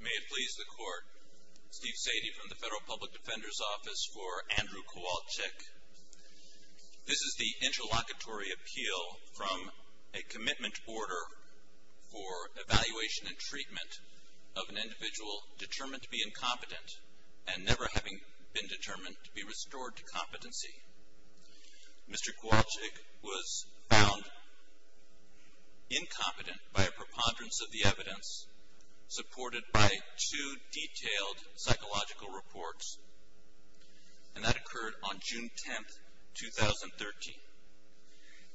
May it please the Court, Steve Sadie from the Federal Public Defender's Office for Andrew Kowalczyk. This is the interlocutory appeal from a commitment order for evaluation and treatment of an individual determined to be incompetent and never having been determined to be restored to competency. Mr. Kowalczyk was found incompetent by a preponderance of the evidence supported by two detailed psychological reports and that occurred on June 10, 2013.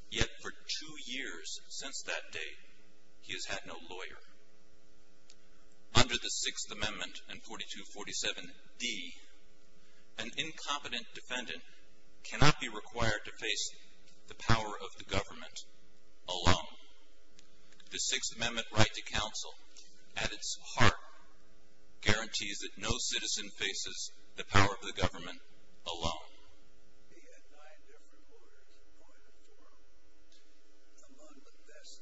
Yet for two years since that date, he has had no lawyer. Under the Sixth Amendment and 4247D, an incompetent defendant cannot be required to face the power of the government alone. The Sixth Amendment right to counsel, at its heart, guarantees that no citizen faces the power of the government alone. He had nine different lawyers appointed to him. Among the best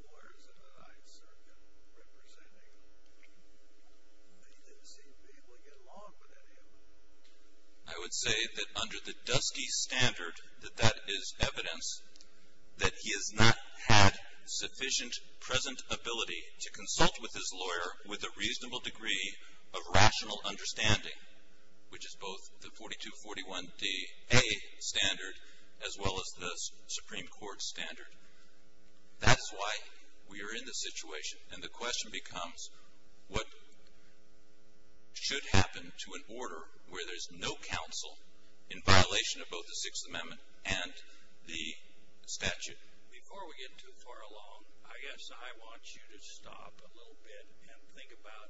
lawyers in the Ninth Circuit representing him, he didn't seem to be able to get along with any of them. I would say that under the Dusky Standard that that is evidence that he has not had sufficient present ability to consult with his lawyer with a reasonable degree of rational understanding, which is both the 4241DA standard as well as the Supreme Court standard. That's why we are in this situation and the question becomes what should happen to an order where there's no counsel in violation of both the Sixth Amendment and the statute. Before we get too far along, I guess I want you to stop a little bit and think about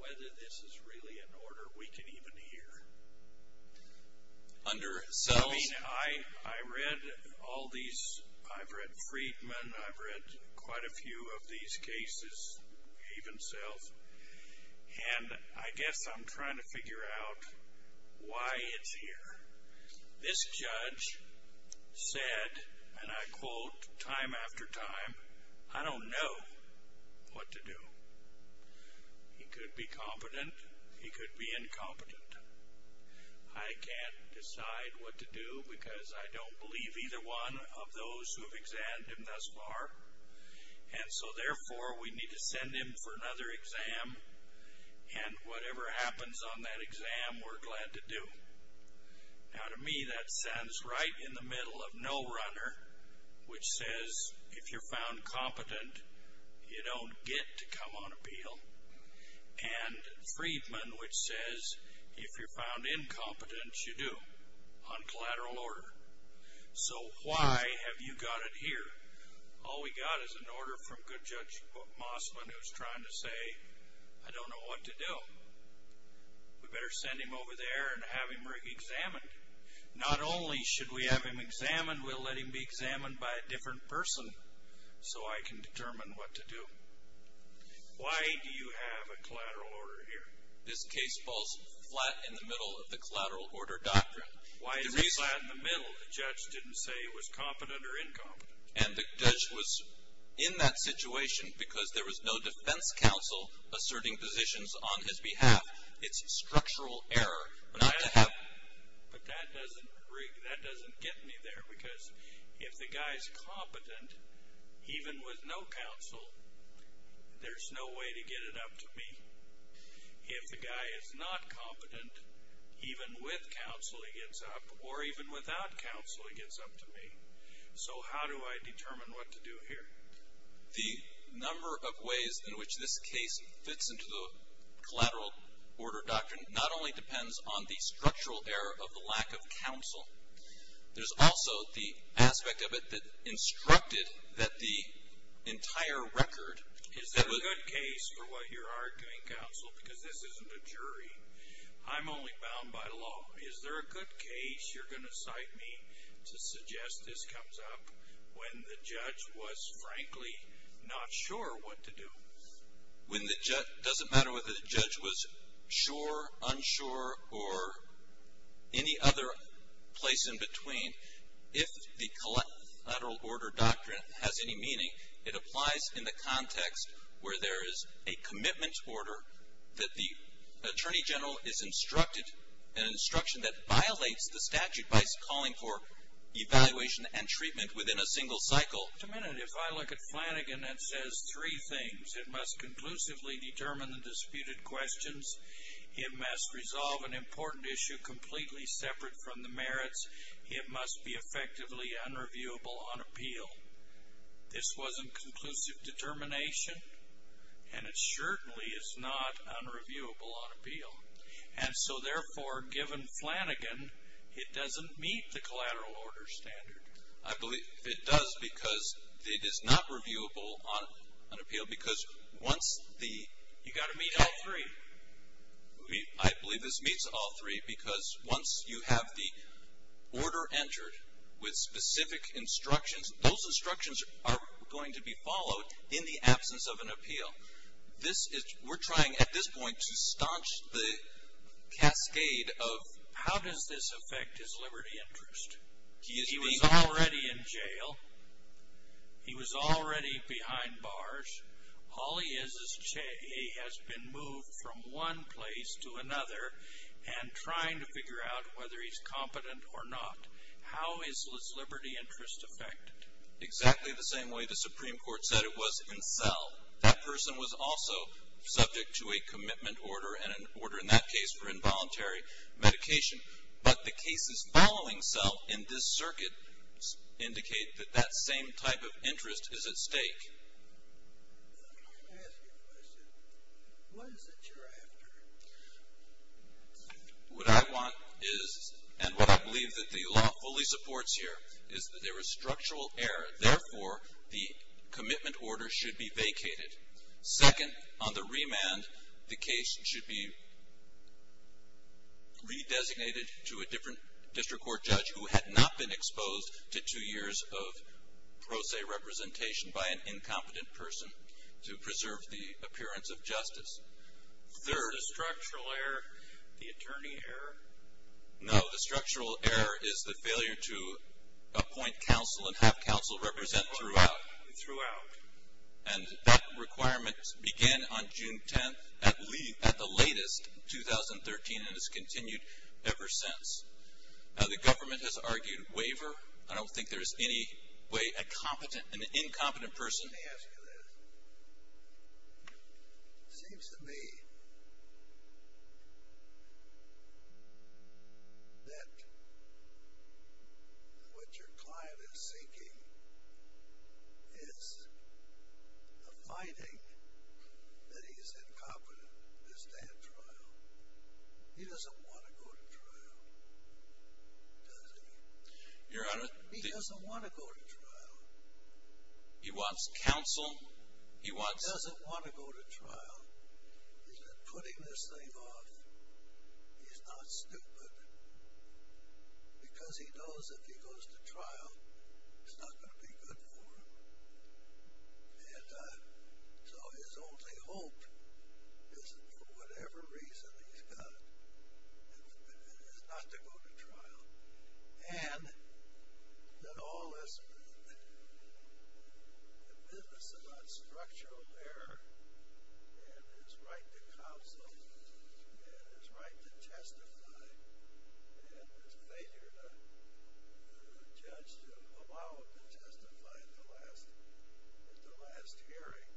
whether this is really an order we can even hear. I mean, I read all these, I've read Friedman, I've read quite a few of these cases, even Self, and I guess I'm trying to figure out why it's here. This judge said, and I quote time after time, I don't know what to do. He could be competent, he could be incompetent. I can't decide what to do because I don't believe either one of those who have examined him thus far. And so therefore, we need to send him for another exam and whatever happens on that exam, we're glad to do. Now to me, that stands right in the middle of No Runner, which says if you're found competent, you don't get to come on appeal, and Friedman, which says if you're found incompetent, you do, on collateral order. So why have you got it here? All we got is an order from good judge Mossman who's trying to say, I don't know what to do. We better send him over there and have him re-examined. Not only should we have him examined, we'll let him be examined by a different person so I can determine what to do. Why do you have a collateral order here? This case falls flat in the middle of the collateral order doctrine. Why is it flat in the middle? The judge didn't say he was competent or incompetent. And the judge was in that situation because there was no defense counsel asserting positions on his behalf. It's structural error. But that doesn't get me there because if the guy's competent, even with no counsel, there's no way to get it up to me. If the guy is not competent, even with counsel, he gets up, or even without counsel, he gets up to me. So how do I determine what to do here? The number of ways in which this case fits into the collateral order doctrine not only depends on the structural error of the lack of counsel. There's also the aspect of it that instructed that the entire record is that... Is there a good case for what you're arguing, counsel, because this isn't a jury? I'm only bound by law. Is there a good case you're going to cite me to suggest this comes up when the judge was, frankly, not sure what to do? It doesn't matter whether the judge was sure, unsure, or any other place in between. If the collateral order doctrine has any meaning, it applies in the context where there is a commitment order that the attorney general is instructed, an instruction that violates the statute by calling for evaluation and treatment within a single cycle. If I look at Flanagan, it says three things. It must conclusively determine the disputed questions. It must resolve an important issue completely separate from the merits. It must be effectively unreviewable on appeal. This wasn't conclusive determination, and it certainly is not unreviewable on appeal. And so, therefore, given Flanagan, it doesn't meet the collateral order standard. I believe it does because it is not reviewable on appeal because once the... You've got to meet all three. I believe this meets all three because once you have the order entered with specific instructions, those instructions are going to be followed in the absence of an appeal. We're trying at this point to staunch the cascade of... How does this affect his liberty interest? He was already in jail. He was already behind bars. All he is is... He has been moved from one place to another and trying to figure out whether he's competent or not. How is his liberty interest affected? Exactly the same way the Supreme Court said it was in Sell. That person was also subject to a commitment order and an order in that case for involuntary medication. But the cases following Sell in this circuit indicate that that same type of interest is at stake. Let me ask you a question. What is it you're after? What I want is, and what I believe that the law fully supports here, is that there is structural error. Therefore, the commitment order should be vacated. Second, on the remand, the case should be redesignated to a different district court judge who had not been exposed to two years of pro se representation by an incompetent person to preserve the appearance of justice. Third... Is the structural error the attorney error? No. The structural error is the failure to appoint counsel and have counsel represent throughout. Throughout. And that requirement began on June 10th at the latest in 2013 and has continued ever since. The government has argued waiver. I don't think there is any way a competent, an incompetent person... Let me ask you this. It seems to me that what your client is seeking is a finding that he is incompetent to stand trial. He doesn't want to go to trial, does he? Your Honor... He doesn't want to go to trial. He wants counsel. He wants... He doesn't want to go to trial. He's been putting this thing off. He's not stupid. Because he knows if he goes to trial, it's not going to be good for him. And so his only hope is, for whatever reason he's got, is not to go to trial. And that all this business about structural error and his right to counsel and his right to testify and his failure to allow a judge to allow him to testify at the last hearing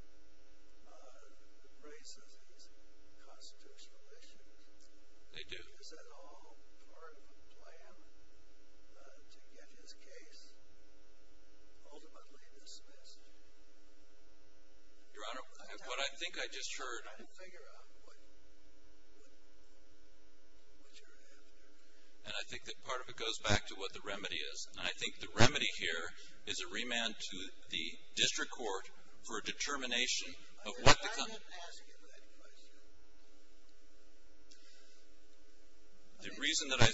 raises these constitutional issues. They do. Is that all part of the plan to get his case ultimately dismissed? Your Honor, what I think I just heard... Try to figure out what you're after. And I think that part of it goes back to what the remedy is. And I think the remedy here is a remand to the district court for a determination of what the... I didn't ask you that question. The reason that I...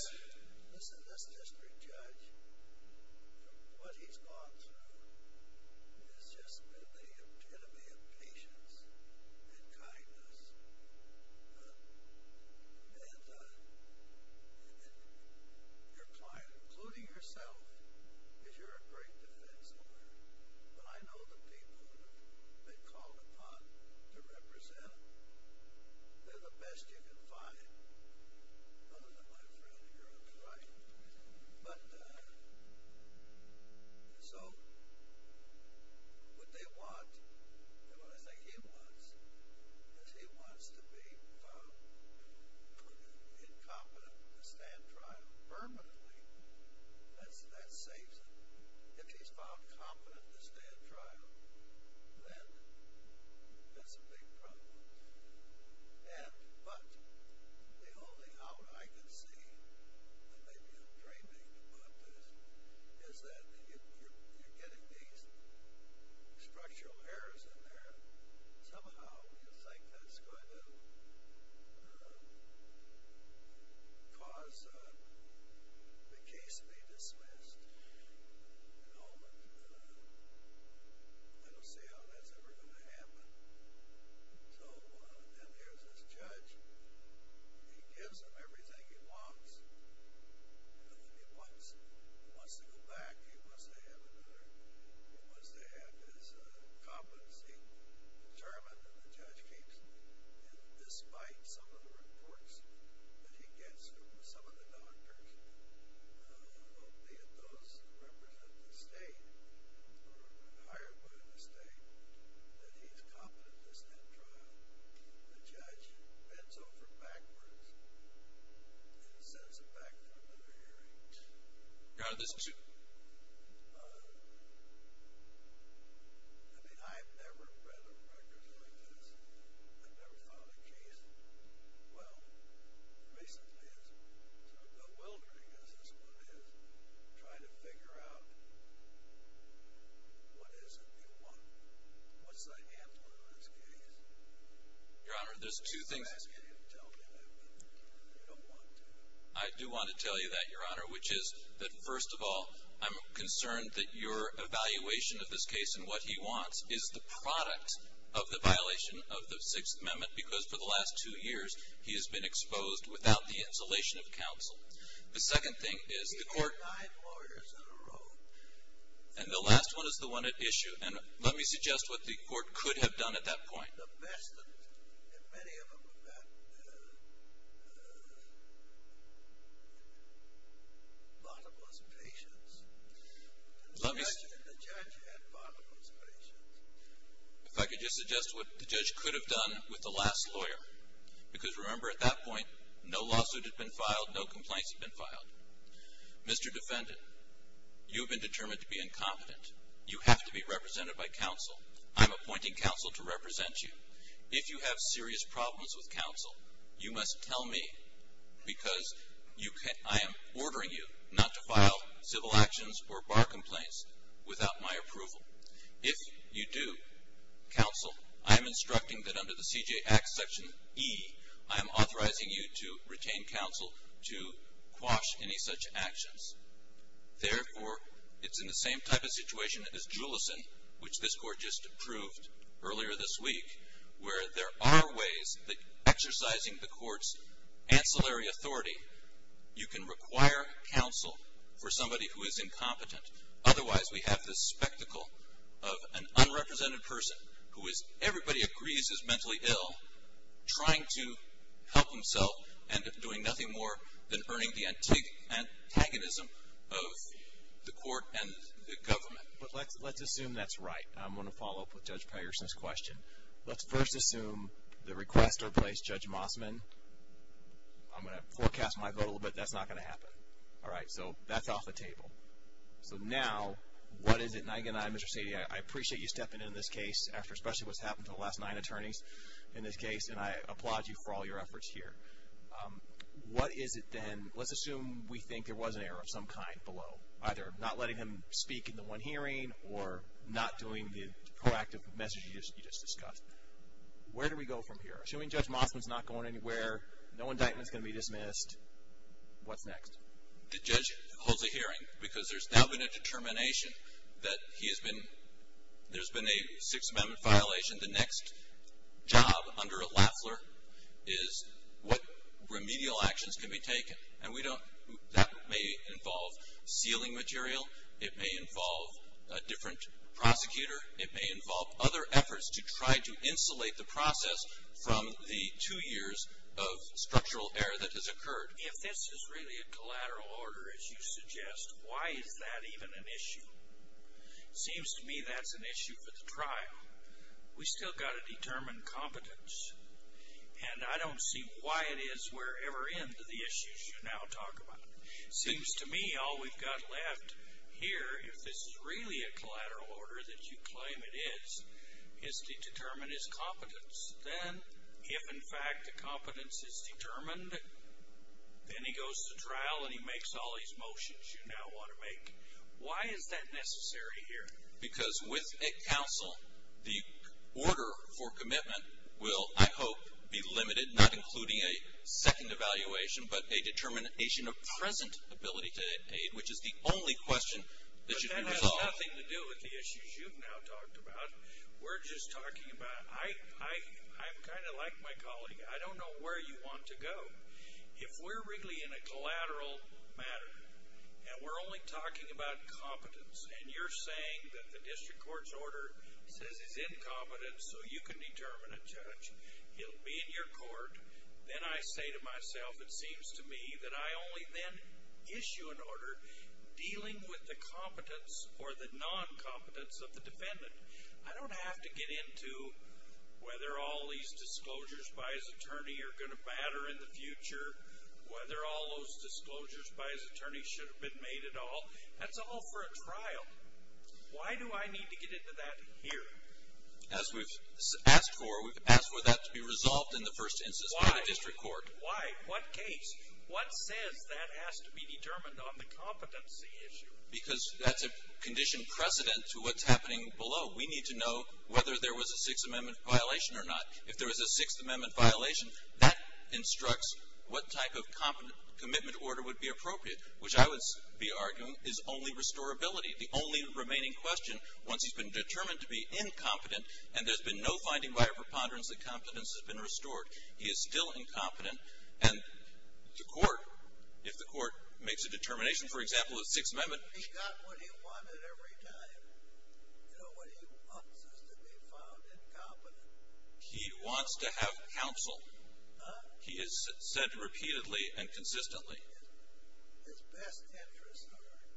Listen, this district judge, from what he's gone through, has just been the epitome of patience and kindness. And your client, including yourself, because you're a great defense lawyer, but I know the people who have been called upon to represent, they're the best you can find. Other than my friend here, that's right. But so what they want, and what I think he wants, is he wants to be found incompetent to stand trial permanently. That saves him. If he's found incompetent to stand trial, then that's a big problem. But the only out I can see, and maybe I'm dreaming about this, is that you're getting these structural errors in there. Somehow you think that's going to cause the case to be dismissed. I don't see how that's ever going to happen. So then there's this judge. He gives them everything he wants. But then he wants to go back. He wants to have his competency determined. And the judge keeps, despite some of the reports that he gets from some of the doctors, albeit those hired by the state, that he's competent to stand trial. The judge bends over backwards and sends him back for another hearing. I mean, I've never read a record like this. I've never filed a case. Well, recently it's become bewildering, because this one is trying to figure out what is it you want. What's the handle on this case? Your Honor, there's two things. I'm asking you to tell me what I want. I don't want to. I do want to tell you that, Your Honor, which is that, first of all, I'm concerned that your evaluation of this case and what he wants is the product of the violation of the Sixth Amendment, because for the last two years he has been exposed without the insulation of counsel. The second thing is the court — He had five lawyers in a row. And the last one is the one at issue. And let me suggest what the court could have done at that point. The best of them, and many of them, had bottomless patience. The judge had bottomless patience. If I could just suggest what the judge could have done with the last lawyer, because remember at that point no lawsuit had been filed, no complaints had been filed. Mr. Defendant, you have been determined to be incompetent. You have to be represented by counsel. I'm appointing counsel to represent you. If you have serious problems with counsel, you must tell me because I am ordering you not to file civil actions or bar complaints without my approval. If you do, counsel, I am instructing that under the CJA Act Section E, I am authorizing you to retain counsel to quash any such actions. Therefore, it's in the same type of situation as Julison, which this court just approved earlier this week, where there are ways that exercising the court's ancillary authority, you can require counsel for somebody who is incompetent. Otherwise, we have this spectacle of an unrepresented person, who everybody agrees is mentally ill, trying to help himself and doing nothing more than earning the antagonism of the court and the government. But let's assume that's right. I'm going to follow up with Judge Patterson's question. Let's first assume the request to replace Judge Mossman. I'm going to forecast my vote a little bit. That's not going to happen. All right, so that's off the table. So now, what is it? And again, I, Mr. Sadie, I appreciate you stepping in on this case after especially what's happened to the last nine attorneys in this case, and I applaud you for all your efforts here. What is it then? Let's assume we think there was an error of some kind below, either not letting him speak in the one hearing or not doing the proactive message you just discussed. Where do we go from here? Assuming Judge Mossman's not going anywhere, no indictment's going to be dismissed, what's next? The judge holds a hearing because there's now been a determination that there's been a Sixth Amendment violation. The next job under a laffler is what remedial actions can be taken, and that may involve sealing material. It may involve a different prosecutor. It may involve other efforts to try to insulate the process from the two years of structural error that has occurred. If this is really a collateral order, as you suggest, why is that even an issue? It seems to me that's an issue for the trial. We've still got to determine competence, and I don't see why it is we're ever into the issues you now talk about. It seems to me all we've got left here, if this is really a collateral order that you claim it is, is to determine his competence. Then if, in fact, the competence is determined, then he goes to trial and he makes all these motions you now want to make. Why is that necessary here? Because with a counsel, the order for commitment will, I hope, be limited, not including a second evaluation, but a determination of present ability to aid, which is the only question that should be resolved. But that has nothing to do with the issues you've now talked about. We're just talking about I'm kind of like my colleague. I don't know where you want to go. If we're really in a collateral matter and we're only talking about competence and you're saying that the district court's order says he's incompetent so you can determine a judge, he'll be in your court. Then I say to myself, it seems to me, that I only then issue an order dealing with the competence or the non-competence of the defendant. I don't have to get into whether all these disclosures by his attorney are going to matter in the future, whether all those disclosures by his attorney should have been made at all. That's all for a trial. Why do I need to get into that here? As we've asked for, we've asked for that to be resolved in the first instance by the district court. Why? What case? What says that has to be determined on the competency issue? Because that's a condition precedent to what's happening below. We need to know whether there was a Sixth Amendment violation or not. If there was a Sixth Amendment violation, that instructs what type of commitment order would be appropriate, which I would be arguing is only restorability. The only remaining question, once he's been determined to be incompetent and there's been no finding by a preponderance that competence has been restored, he is still incompetent and the court, if the court makes a determination, for example, a Sixth Amendment. He got what he wanted every time. You know, what he wants is to be found incompetent. He wants to have counsel. He has said repeatedly and consistently. His best interest, however,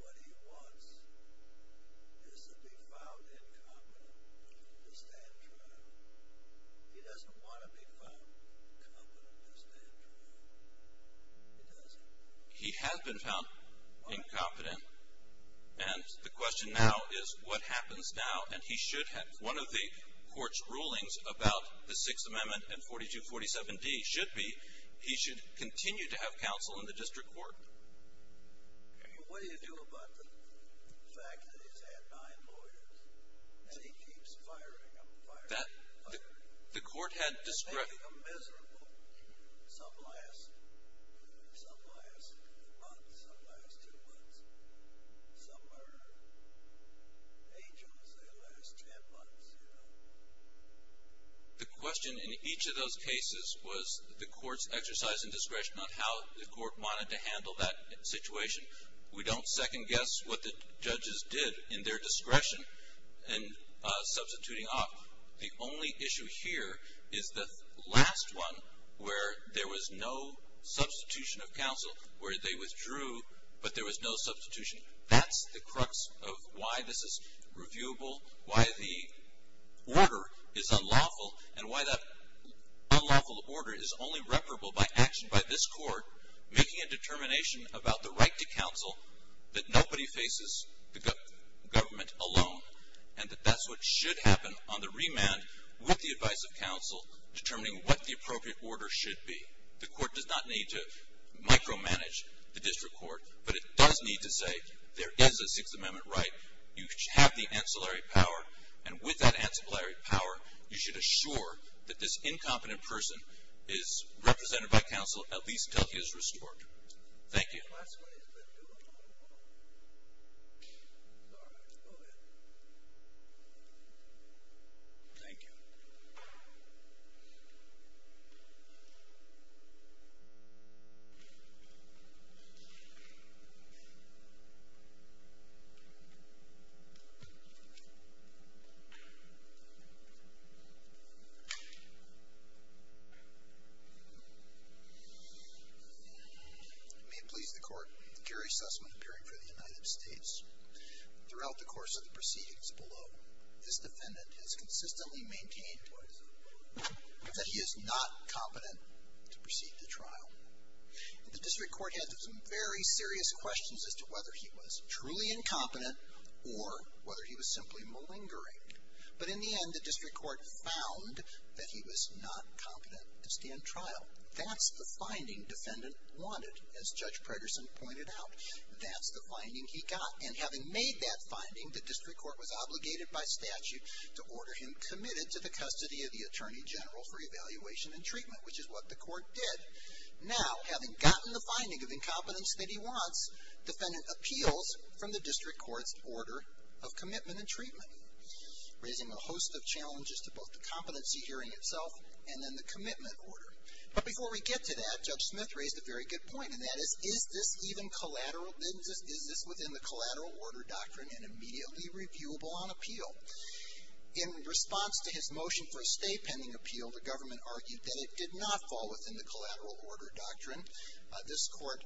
what he wants is to be found incompetent to stand trial. He doesn't want to be found incompetent to stand trial. He doesn't. He has been found incompetent. And the question now is what happens now? And he should have. One of the court's rulings about the Sixth Amendment and 4247D should be he should continue to have counsel in the district court. What do you do about the fact that he's had nine lawyers and he keeps firing them, firing them, firing them? I think they're miserable. Some last a month, some last two months. Some are angels, they last ten months, you know. The question in each of those cases was the court's exercise and discretion on how the court wanted to handle that situation. We don't second guess what the judges did in their discretion in substituting off. The only issue here is the last one where there was no substitution of counsel, where they withdrew but there was no substitution. That's the crux of why this is reviewable, why the order is unlawful, and why that unlawful order is only reparable by action by this court making a determination about the right to counsel that nobody faces, the government alone, and that that's what should happen on the remand with the advice of counsel, determining what the appropriate order should be. The court does not need to micromanage the district court, but it does need to say there is a Sixth Amendment right, you have the ancillary power, and with that ancillary power, you should assure that this incompetent person is represented by counsel at least until he is restored. Thank you. May it please the court, Gary Sussman appearing for the United States. Throughout the course of the proceedings below, this defendant has consistently maintained that he is not competent to proceed to trial. The district court had some very serious questions as to whether he was truly incompetent or whether he was simply malingering. But in the end, the district court found that he was not competent to stand trial. Now, that's the finding defendant wanted, as Judge Preterson pointed out. That's the finding he got. And having made that finding, the district court was obligated by statute to order him committed to the custody of the attorney general for evaluation and treatment, which is what the court did. Now, having gotten the finding of incompetence that he wants, defendant appeals from the district court's order of commitment and treatment, raising a host of challenges to both the competency hearing itself and then the commitment order. But before we get to that, Judge Smith raised a very good point, and that is, is this within the collateral order doctrine and immediately reviewable on appeal? In response to his motion for a stay pending appeal, the government argued that it did not fall within the collateral order doctrine. This court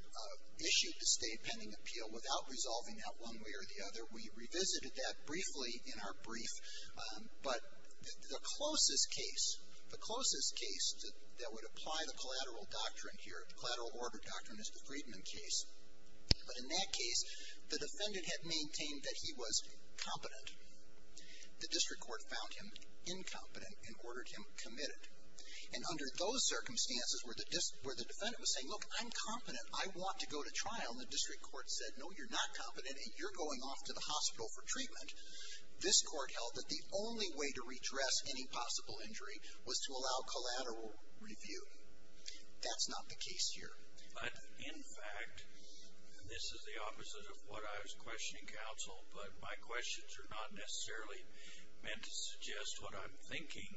issued the stay pending appeal without resolving that one way or the other. We revisited that briefly in our brief. But the closest case, the closest case that would apply the collateral doctrine here, the collateral order doctrine is the Friedman case. But in that case, the defendant had maintained that he was competent. The district court found him incompetent and ordered him committed. And under those circumstances where the defendant was saying, look, I'm competent, I want to go to trial, and the district court said, no, you're not competent, and you're going off to the hospital for treatment, this court held that the only way to redress any possible injury was to allow collateral review. That's not the case here. But, in fact, this is the opposite of what I was questioning counsel, but my questions are not necessarily meant to suggest what I'm thinking.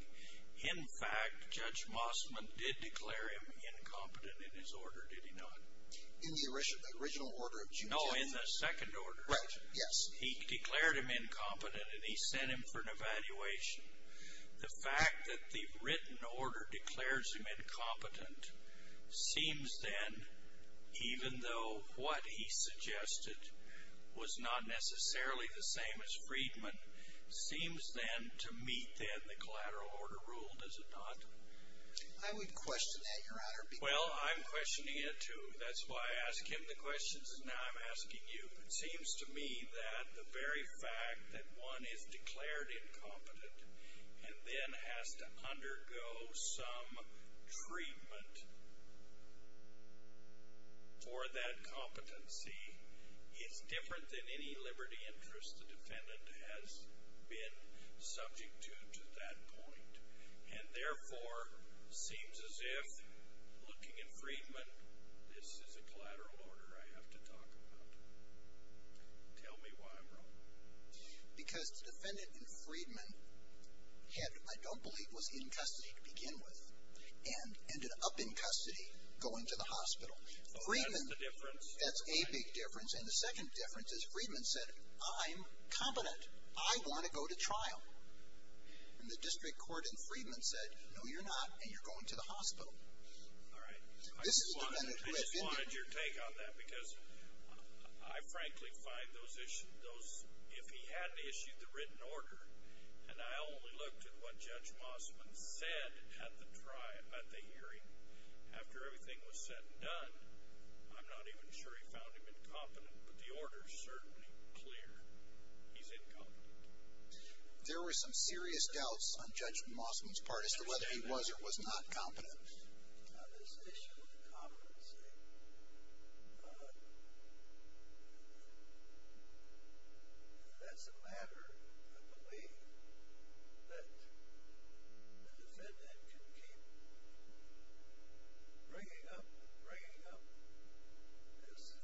In fact, Judge Mossman did declare him incompetent in his order, did he not? In the original order of June 10th? No, in the second order. Right, yes. He declared him incompetent, and he sent him for an evaluation. The fact that the written order declares him incompetent seems then, even though what he suggested was not necessarily the same as Friedman, seems then to meet then the collateral order rule, does it not? I would question that, Your Honor. Well, I'm questioning it too. That's why I ask him the questions, and now I'm asking you. It seems to me that the very fact that one is declared incompetent and then has to undergo some treatment for that competency is different than any liberty interest the defendant has been subject to to that point, and therefore seems as if, looking at Friedman, this is a collateral order I have to talk about. Tell me why I'm wrong. Because the defendant in Friedman had, I don't believe was in custody to begin with, and ended up in custody going to the hospital. Oh, that's the difference? That's a big difference, and the second difference is Friedman said, I'm competent. I want to go to trial. And the district court in Friedman said, no, you're not, and you're going to the hospital. All right. I just wanted your take on that because I frankly find those issues, if he hadn't issued the written order, and I only looked at what Judge Mossman said at the hearing, after everything was said and done, I'm not even sure he found him incompetent, but the order is certainly clear. He's incompetent. There were some serious doubts on Judge Mossman's part as to whether he was or was not competent. This issue of competency, that's a matter of belief that the defendant can keep bringing up and bringing up as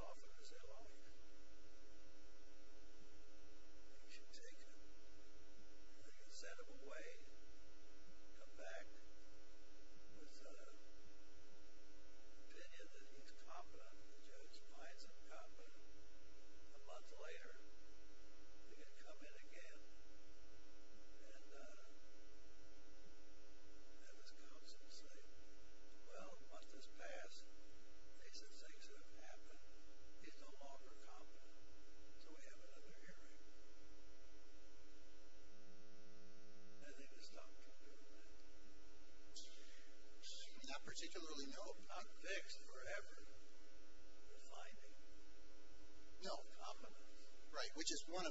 often as they like. You should take it. You can send him away, come back with the opinion that he's competent. The judge finds him competent. A month later, you can come in again and have his counsel say, well, a month has passed. These are things that have happened. He's no longer competent. So we have another hearing. And then you stop talking about it. Not particularly, no. Not fixed forever. You're finding. No, competence. Right, which is one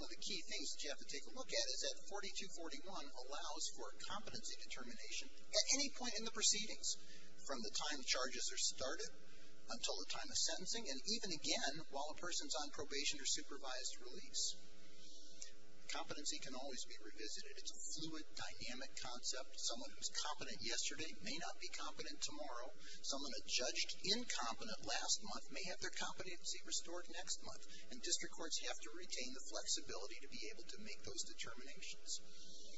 of the key things that you have to take a look at, is that 4241 allows for competency determination. At any point in the proceedings, from the time charges are started until the time of sentencing, and even again while a person's on probation or supervised release. Competency can always be revisited. It's a fluid, dynamic concept. Someone who was competent yesterday may not be competent tomorrow. Someone who judged incompetent last month may have their competency restored next month. And district courts have to retain the flexibility to be able to make those determinations.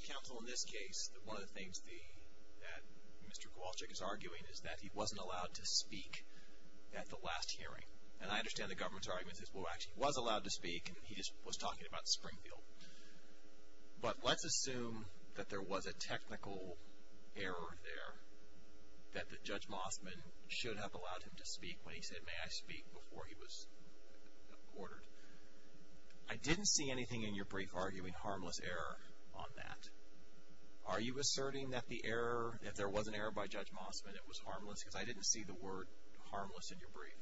Counsel, in this case, one of the things that Mr. Kowalczyk is arguing is that he wasn't allowed to speak at the last hearing. And I understand the government's argument is, well, actually he was allowed to speak, and he just was talking about Springfield. But let's assume that there was a technical error there that Judge Mossman should have allowed him to speak when he said, may I speak before he was ordered. I didn't see anything in your brief arguing harmless error on that. Are you asserting that the error, if there was an error by Judge Mossman, it was harmless because I didn't see the word harmless in your brief.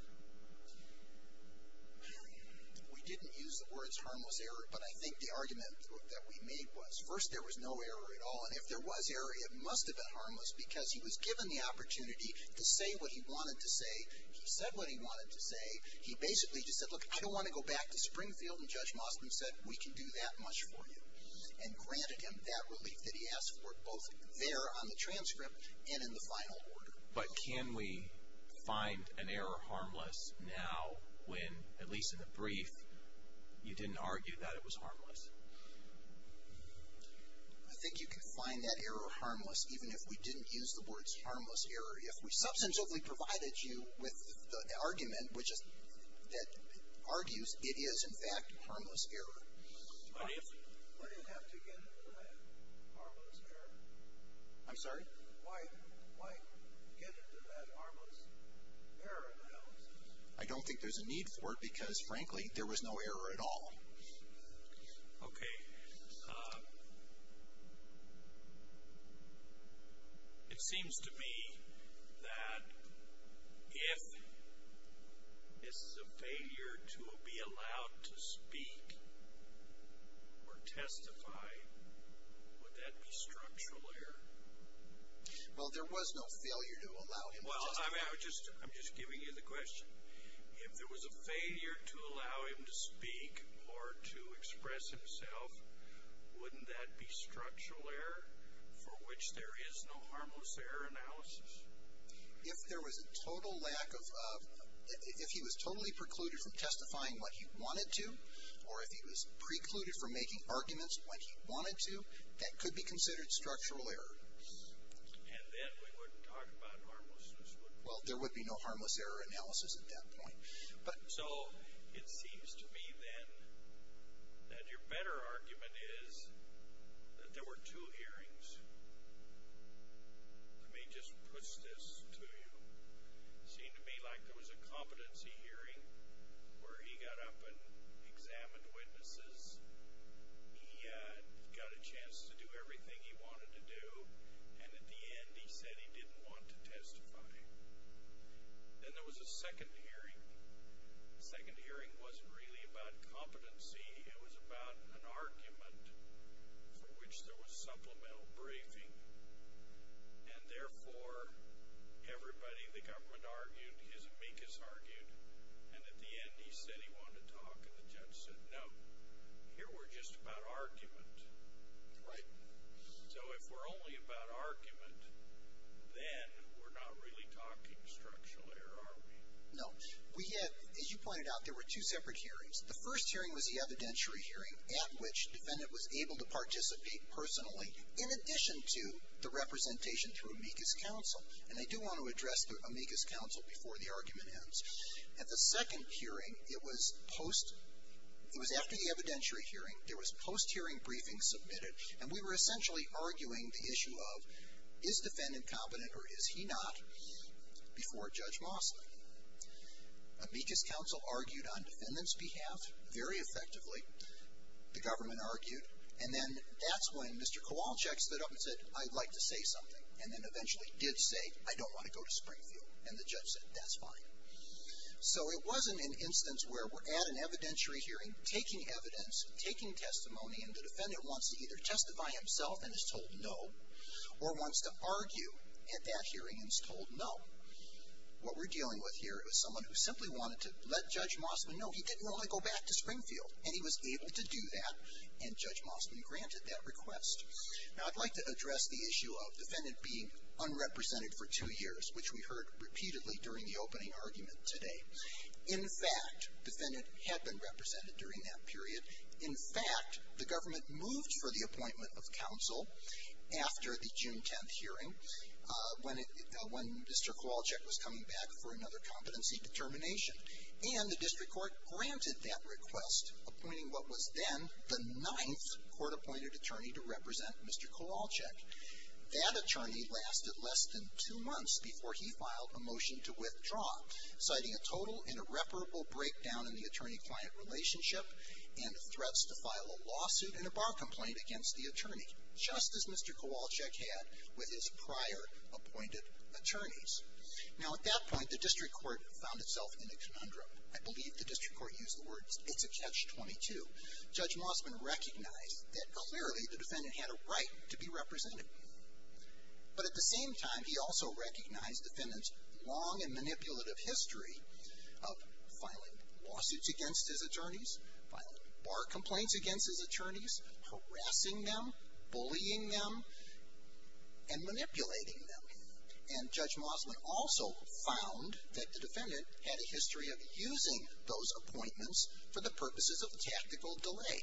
We didn't use the words harmless error, but I think the argument that we made was first there was no error at all. And if there was error, it must have been harmless because he was given the opportunity to say what he wanted to say. He said what he wanted to say. He basically just said, look, I don't want to go back to Springfield and Judge Mossman said, we can do that much for you. And granted him that relief that he asked for both there on the transcript and in the final order. But can we find an error harmless now when, at least in the brief, you didn't argue that it was harmless. I think you can find that error harmless, even if we didn't use the words harmless error. If we substantively provided you with the argument, which is that argues it is in fact, harmless error. I'm sorry. I don't think there's a need for it because frankly, there was no error at all. Okay. It seems to me that if this is a failure to be allowed to speak or testify, would that be structural error? Well, there was no failure to allow him to speak. I'm just giving you the question. If there was a failure to allow him to speak or to express himself, wouldn't that be structural error for which there is no harmless error analysis? If there was a total lack of, if he was totally precluded from testifying what he wanted to, or if he was precluded from making arguments when he wanted to, that could be considered structural error. And then we wouldn't talk about harmlessness, would we? Well, there would be no harmless error analysis at that point. So it seems to me then that your better argument is that there were two hearings. Let me just push this to you. It seemed to me like there was a competency hearing where he got up and examined witnesses. He got a chance to do everything he wanted to do, and at the end he said he didn't want to testify. Then there was a second hearing. The second hearing wasn't really about competency. It was about an argument for which there was supplemental briefing, and therefore everybody, the government argued, his amicus argued, and at the end he said he wanted to talk, and the judge said, no, here we're just about argument, right? So if we're only about argument, then we're not really talking structural error, are we? No. We had, as you pointed out, there were two separate hearings. The first hearing was the evidentiary hearing at which the defendant was able to participate personally in addition to the representation through amicus counsel, and I do want to address the amicus counsel before the argument ends. At the second hearing, it was post, it was after the evidentiary hearing. There was post-hearing briefing submitted, and we were essentially arguing the issue of is defendant competent or is he not before Judge Mosley. Amicus counsel argued on defendant's behalf very effectively. The government argued, and then that's when Mr. Kowalczyk stood up and said, I'd like to say something, and then eventually did say, I don't want to go to Springfield, and the judge said, that's fine. So it wasn't an instance where we're at an evidentiary hearing taking evidence, taking testimony, and the defendant wants to either testify himself and is told no or wants to argue at that hearing and is told no. What we're dealing with here is someone who simply wanted to let Judge Mosley know he didn't want to go back to Springfield, and he was able to do that, and Judge Mosley granted that request. Now, I'd like to address the issue of defendant being unrepresented for two years, which we heard repeatedly during the opening argument today. In fact, defendant had been represented during that period. In fact, the government moved for the appointment of counsel after the June 10th hearing when Mr. Kowalczyk was coming back for another competency determination, and the district court granted that request, appointing what was then the ninth court-appointed attorney to represent Mr. Kowalczyk. That attorney lasted less than two months before he filed a motion to withdraw, citing a total and irreparable breakdown in the attorney-client relationship and threats to file a lawsuit and a bar complaint against the attorney, just as Mr. Kowalczyk had with his prior-appointed attorneys. Now, at that point, the district court found itself in a conundrum. I believe the district court used the words, it's a catch-22. Judge Mosley recognized that clearly the defendant had a right to be represented. But at the same time, he also recognized defendant's long and manipulative history of filing lawsuits against his attorneys, filing bar complaints against his attorneys, harassing them, bullying them, and manipulating them. And Judge Mosley also found that the defendant had a history of using those appointments for the purposes of tactical delay.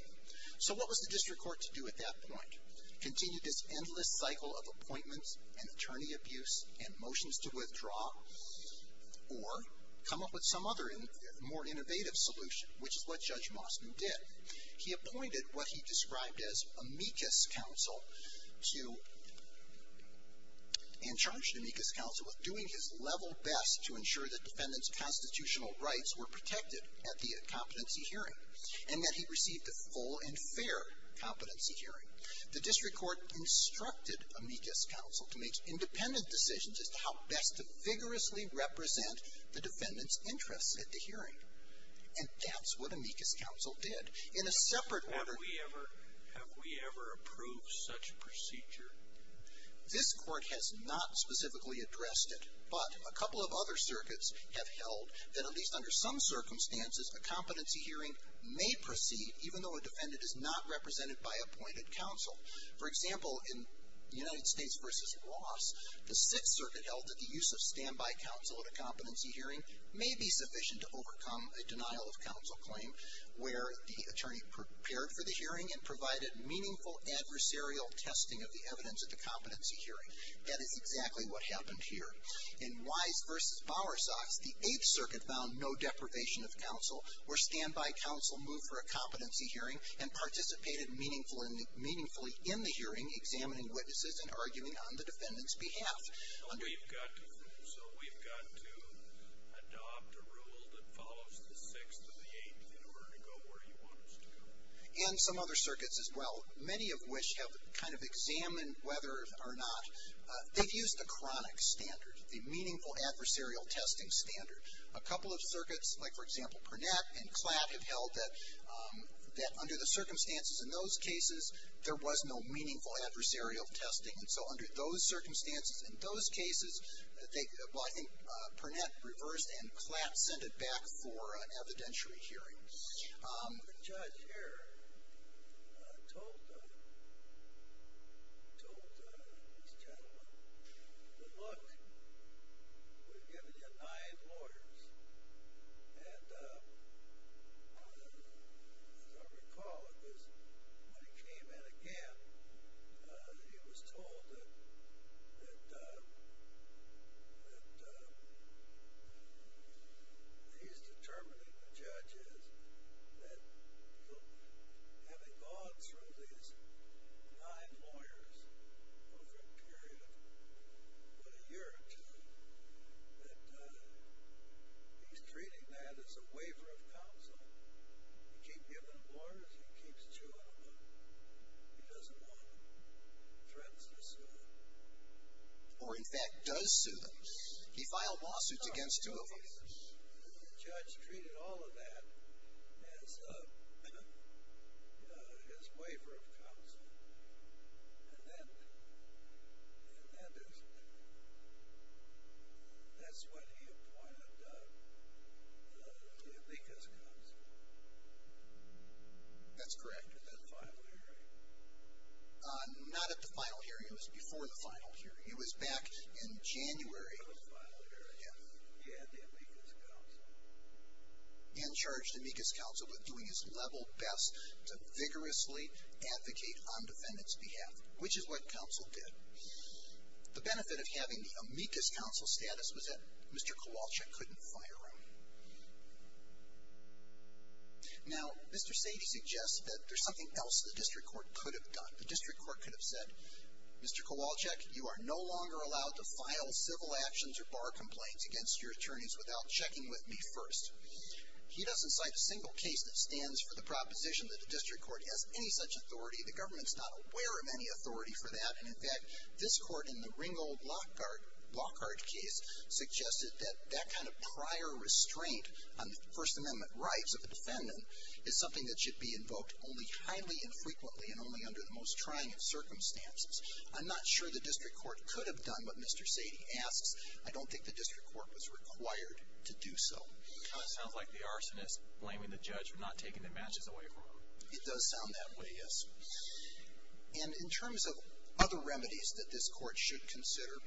So what was the district court to do at that point? Continue this endless cycle of appointments and attorney abuse and motions to withdraw or come up with some other more innovative solution, which is what Judge Mosley did. He appointed what he described as amicus counsel to, and charged amicus counsel with doing his level best to ensure that defendant's constitutional rights were protected at the competency hearing and that he received a full and fair competency hearing. The district court instructed amicus counsel to make independent decisions as to how best to vigorously represent the defendant's interests at the hearing. And that's what amicus counsel did. In a separate order... Have we ever approved such procedure? This court has not specifically addressed it, but a couple of other circuits have held that at least under some circumstances, a competency hearing may proceed, even though a defendant is not represented by appointed counsel. For example, in United States v. Ross, the Sixth Circuit held that the use of standby counsel at a competency hearing may be sufficient to overcome a denial of counsel claim where the attorney prepared for the hearing and provided meaningful adversarial testing of the evidence at the competency hearing. That is exactly what happened here. In Wise v. Bowersox, the Eighth Circuit found no deprivation of counsel where standby counsel moved for a competency hearing and participated meaningfully in the hearing, examining witnesses and arguing on the defendant's behalf. So we've got to adopt a rule that follows the Sixth or the Eighth in order to go where he wants to go. And some other circuits as well, many of which have kind of examined whether or not... They've used the chronic standard, the meaningful adversarial testing standard. A couple of circuits, like for example, Purnett and Klatt, have held that under the circumstances in those cases, there was no meaningful adversarial testing. And so under those circumstances in those cases, well, I think Purnett reversed and Klatt sent it back for an evidentiary hearing. The judge here told these gentlemen, look, we've given you nine lawyers. And as I recall, when he came in again, he was told that he's determining the judges, that having gone through these nine lawyers over a period of a year or two, that he's treating that as a waiver of counsel. He keeps giving them lawyers, he keeps suing them. He doesn't want to threaten to sue them. Or in fact, does sue them. He filed lawsuits against two of them. And then that's when he appointed the amicus counsel. That's correct. At that final hearing. Not at the final hearing. It was before the final hearing. It was back in January. Before the final hearing. Yeah. He had the amicus counsel. And charged amicus counsel with doing his level best to vigorously advocate on defendant's behalf. Which is what counsel did. The benefit of having the amicus counsel status was that Mr. Kowalczyk couldn't fire him. Now, Mr. Sadie suggests that there's something else the district court could have done. The district court could have said, Mr. Kowalczyk, you are no longer allowed to file civil actions or bar complaints against your attorneys without checking with me first. He doesn't cite a single case that stands for the proposition that the district court has any such authority. The government's not aware of any authority for that. And in fact, this court in the Ringgold Lockhart case suggested that that kind of prior restraint on the First Amendment rights of a defendant is something that should be invoked only highly infrequently and only under the most trying of circumstances. I'm not sure the district court could have done what Mr. Sadie asks. I don't think the district court was required to do so. But it sounds like the arsonist blaming the judge for not taking the matches away from him. It does sound that way, yes. And in terms of other remedies that this court should consider,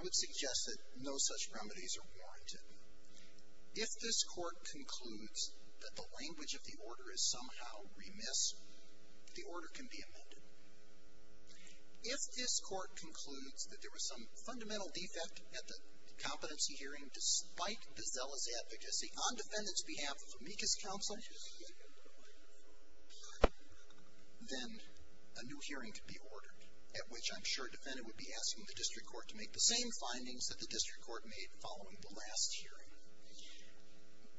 I would suggest that no such remedies are warranted. If this court concludes that the language of the order is somehow remiss, the order can be amended. If this court concludes that there was some fundamental defect at the competency hearing despite the zealous advocacy on defendant's behalf of amicus counsel, then a new hearing can be ordered, at which I'm sure a defendant would be asking the district court to make the same findings that the district court made following the last hearing.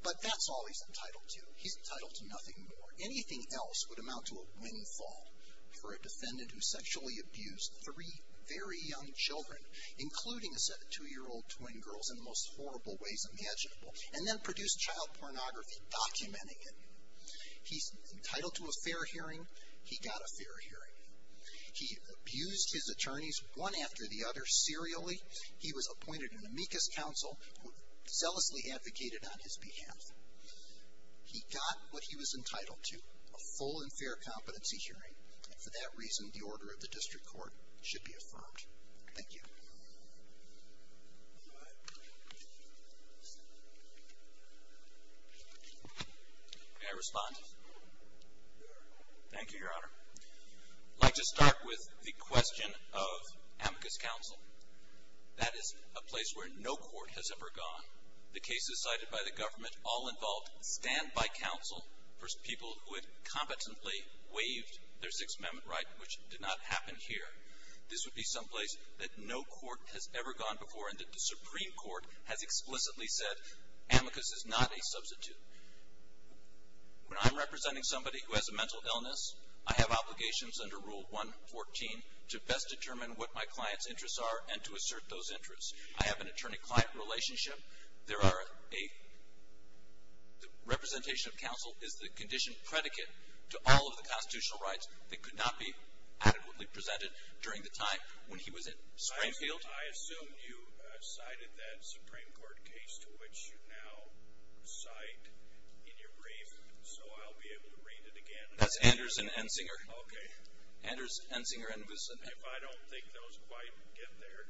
But that's all he's entitled to. He's entitled to nothing more. Anything else would amount to a windfall for a defendant who sexually abused three very young children, including a set of two-year-old twin girls in the most horrible ways imaginable, and then produced child pornography documenting it. He's entitled to a fair hearing. He got a fair hearing. He abused his attorneys one after the other serially. He was appointed an amicus counsel who zealously advocated on his behalf. He got what he was entitled to, a full and fair competency hearing, and for that reason, the order of the district court should be affirmed. Thank you. May I respond? Thank you, Your Honor. I'd like to start with the question of amicus counsel. That is a place where no court has ever gone. The cases cited by the government all involved standby counsel for people who had competently waived their Sixth Amendment right, which did not happen here. This would be someplace that no court has ever gone before and that the Supreme Court has explicitly said amicus is not a substitute. When I'm representing somebody who has a mental illness, I have obligations under Rule 114 to best determine what my client's interests are and to assert those interests. I have an attorney-client relationship. There are a representation of counsel is the condition predicate to all of the constitutional rights that could not be adequately presented during the time when he was at Springfield. I assume you cited that Supreme Court case to which you now cite in your brief, so I'll be able to read it again. That's Anders and Ensinger. Okay. Anders, Ensinger, and Wilson. If I don't think those quite get there,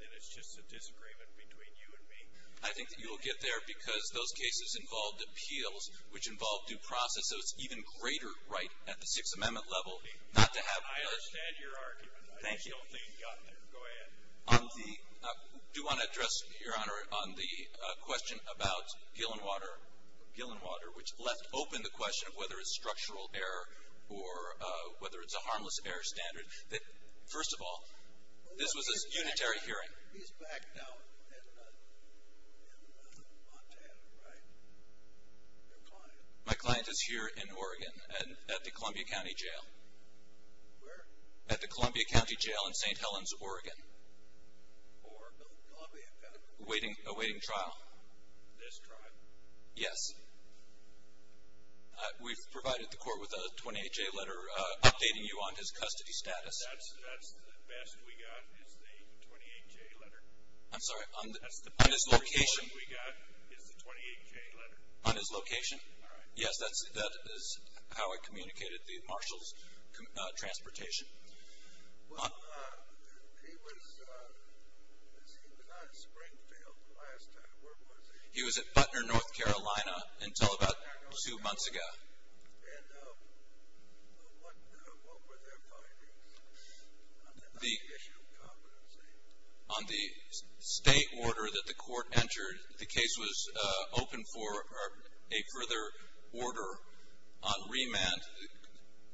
then it's just a disagreement between you and me. I think that you will get there because those cases involved appeals, which involved due process, so it's an even greater right at the Sixth Amendment level not to have. I understand your argument. Thank you. Go ahead. I do want to address, Your Honor, on the question about Gillenwater, which left open the question of whether it's structural error or whether it's a harmless error standard. First of all, this was a unitary hearing. He's back now in Montana, right? Your client. My client is here in Oregon at the Columbia County Jail. Where? At the Columbia County Jail in St. Helens, Oregon. For? The Columbia County? Awaiting trial. This trial? Yes. We've provided the court with a 28-J letter updating you on his custody status. That's the best we got is the 28-J letter. I'm sorry. That's the best report we got is the 28-J letter. On his location? All right. Yes, that is how I communicated the marshal's transportation. Well, he was on Springfield last time. Where was he? He was at Butner, North Carolina until about two months ago. And what were their findings on the issue of competency? On the state order that the court entered, the case was open for a further order on remand.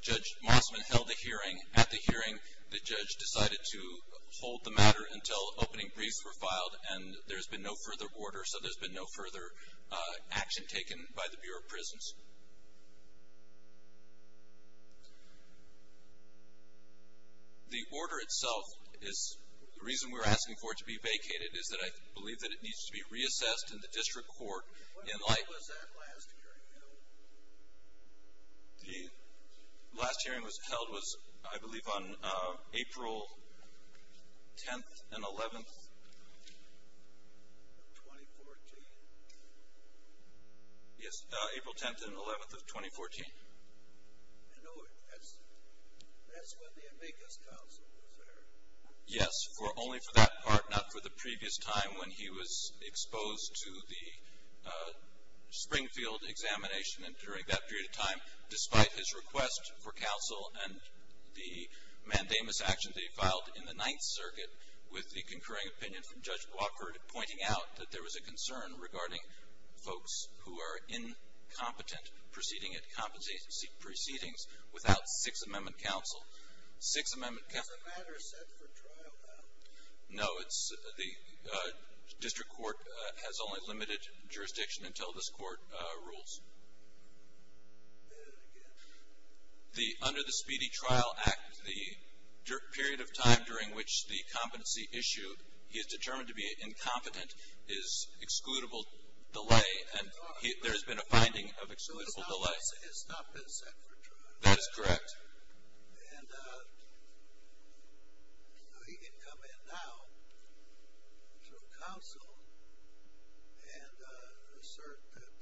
Judge Mossman held the hearing. At the hearing, the judge decided to hold the matter until opening briefs were filed, and there's been no further order, so there's been no further action taken by the Bureau of Prisons. The order itself is the reason we're asking for it to be vacated is that I believe that it needs to be reassessed in the district court in light. When was that last hearing held? The last hearing was held, I believe, on April 10th and 11th of 2014. Yes, April 10th and 11th of 2014. I know it. That's when the amicus council was there. Yes, only for that part, not for the previous time when he was exposed to the Springfield examination. And during that period of time, despite his request for counsel and the mandamus action that he filed in the Ninth Circuit with the concurring opinion from Judge Walker, pointing out that there was a concern regarding folks who are incompetent proceeding at competency proceedings without Sixth Amendment counsel. Is the matter set for trial now? No, the district court has only limited jurisdiction until this court rules. Say that again. Under the Speedy Trial Act, the period of time during which the competency issue, he is determined to be incompetent, is excludable delay, and there has been a finding of excludable delay. He has not been set for trial. That is correct. And he can come in now to counsel and assert that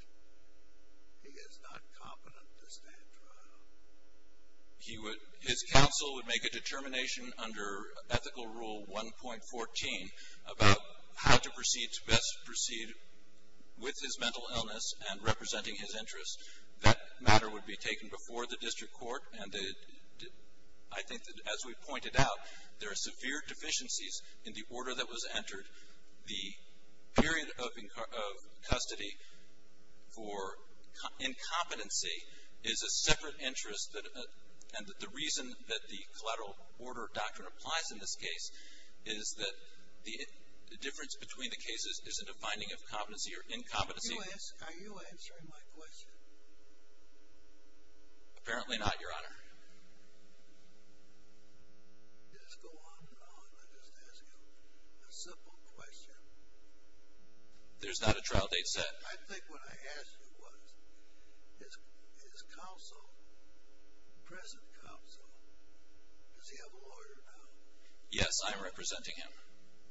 he is not competent to stand trial. His counsel would make a determination under Ethical Rule 1.14 about how to best proceed with his mental illness and representing his interests. That matter would be taken before the district court. And I think that, as we pointed out, there are severe deficiencies in the order that was entered. The period of custody for incompetency is a separate interest. And the reason that the collateral order doctrine applies in this case is that the difference between the cases isn't a finding of competency or incompetency. Are you answering my question? Apparently not, Your Honor. Just go on and on. I'm just asking you a simple question. There's not a trial date set. I think what I asked you was, is counsel, present counsel, does he have a lawyer now? Yes, I am representing him.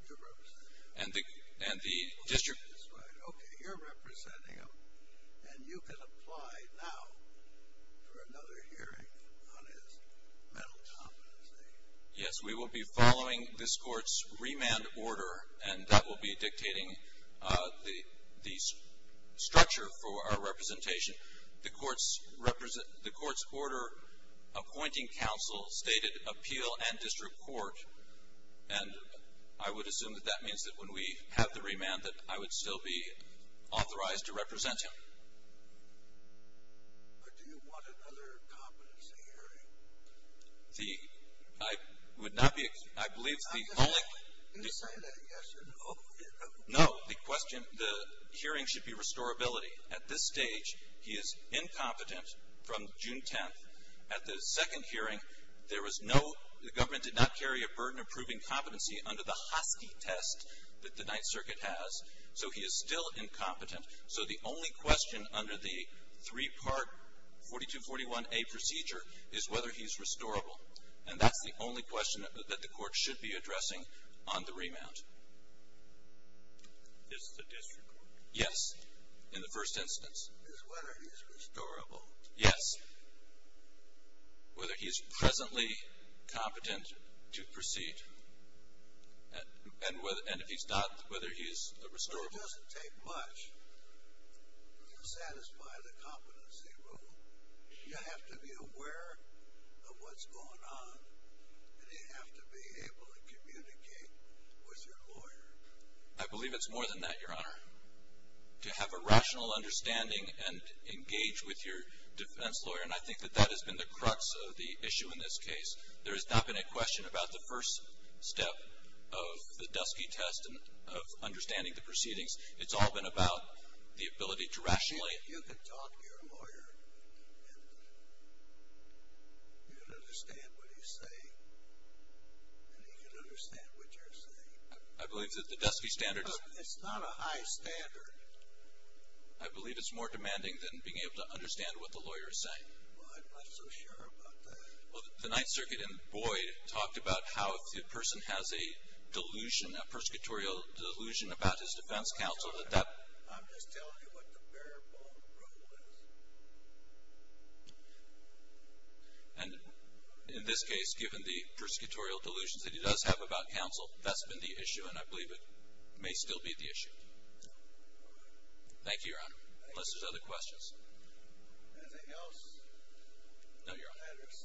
You're representing him. Okay, you're representing him. And you can apply now for another hearing on his mental competency. Yes, we will be following this court's remand order, and that will be dictating the structure for our representation. The court's order appointing counsel stated appeal and district court. And I would assume that that means that when we have the remand, that I would still be authorized to represent him. But do you want another competency hearing? I believe it's the only question. No, the hearing should be restorability. At this stage, he is incompetent from June 10th. At the second hearing, there was no, the government did not carry a burden approving competency under the Hasky test that the Ninth Circuit has, so he is still incompetent. So the only question under the three-part 4241A procedure is whether he's restorable. And that's the only question that the court should be addressing on the remand. It's the district court. Yes, in the first instance. It's whether he's restorable. Yes. Whether he's presently competent to proceed. And if he's not, whether he's restorable. It doesn't take much to satisfy the competency rule. You have to be aware of what's going on, and you have to be able to communicate with your lawyer. I believe it's more than that, Your Honor. To have a rational understanding and engage with your defense lawyer, and I think that that has been the crux of the issue in this case. There has not been a question about the first step of the Dusky test and of understanding the proceedings. It's all been about the ability to rationally. You can talk to your lawyer, and you can understand what he's saying, and he can understand what you're saying. I believe that the Dusky standard. It's not a high standard. I believe it's more demanding than being able to understand what the lawyer is saying. I'm not so sure about that. The Ninth Circuit in Boyd talked about how if the person has a delusion, a persecutorial delusion about his defense counsel. I'm just telling you what the bare bone rule is. And in this case, given the persecutorial delusions that he does have about counsel, that's been the issue, and I believe it may still be the issue. Thank you, Your Honor. Unless there's other questions. Anything else? No, Your Honor. The matter is submitted. Court will recess until 9 a.m. tomorrow morning.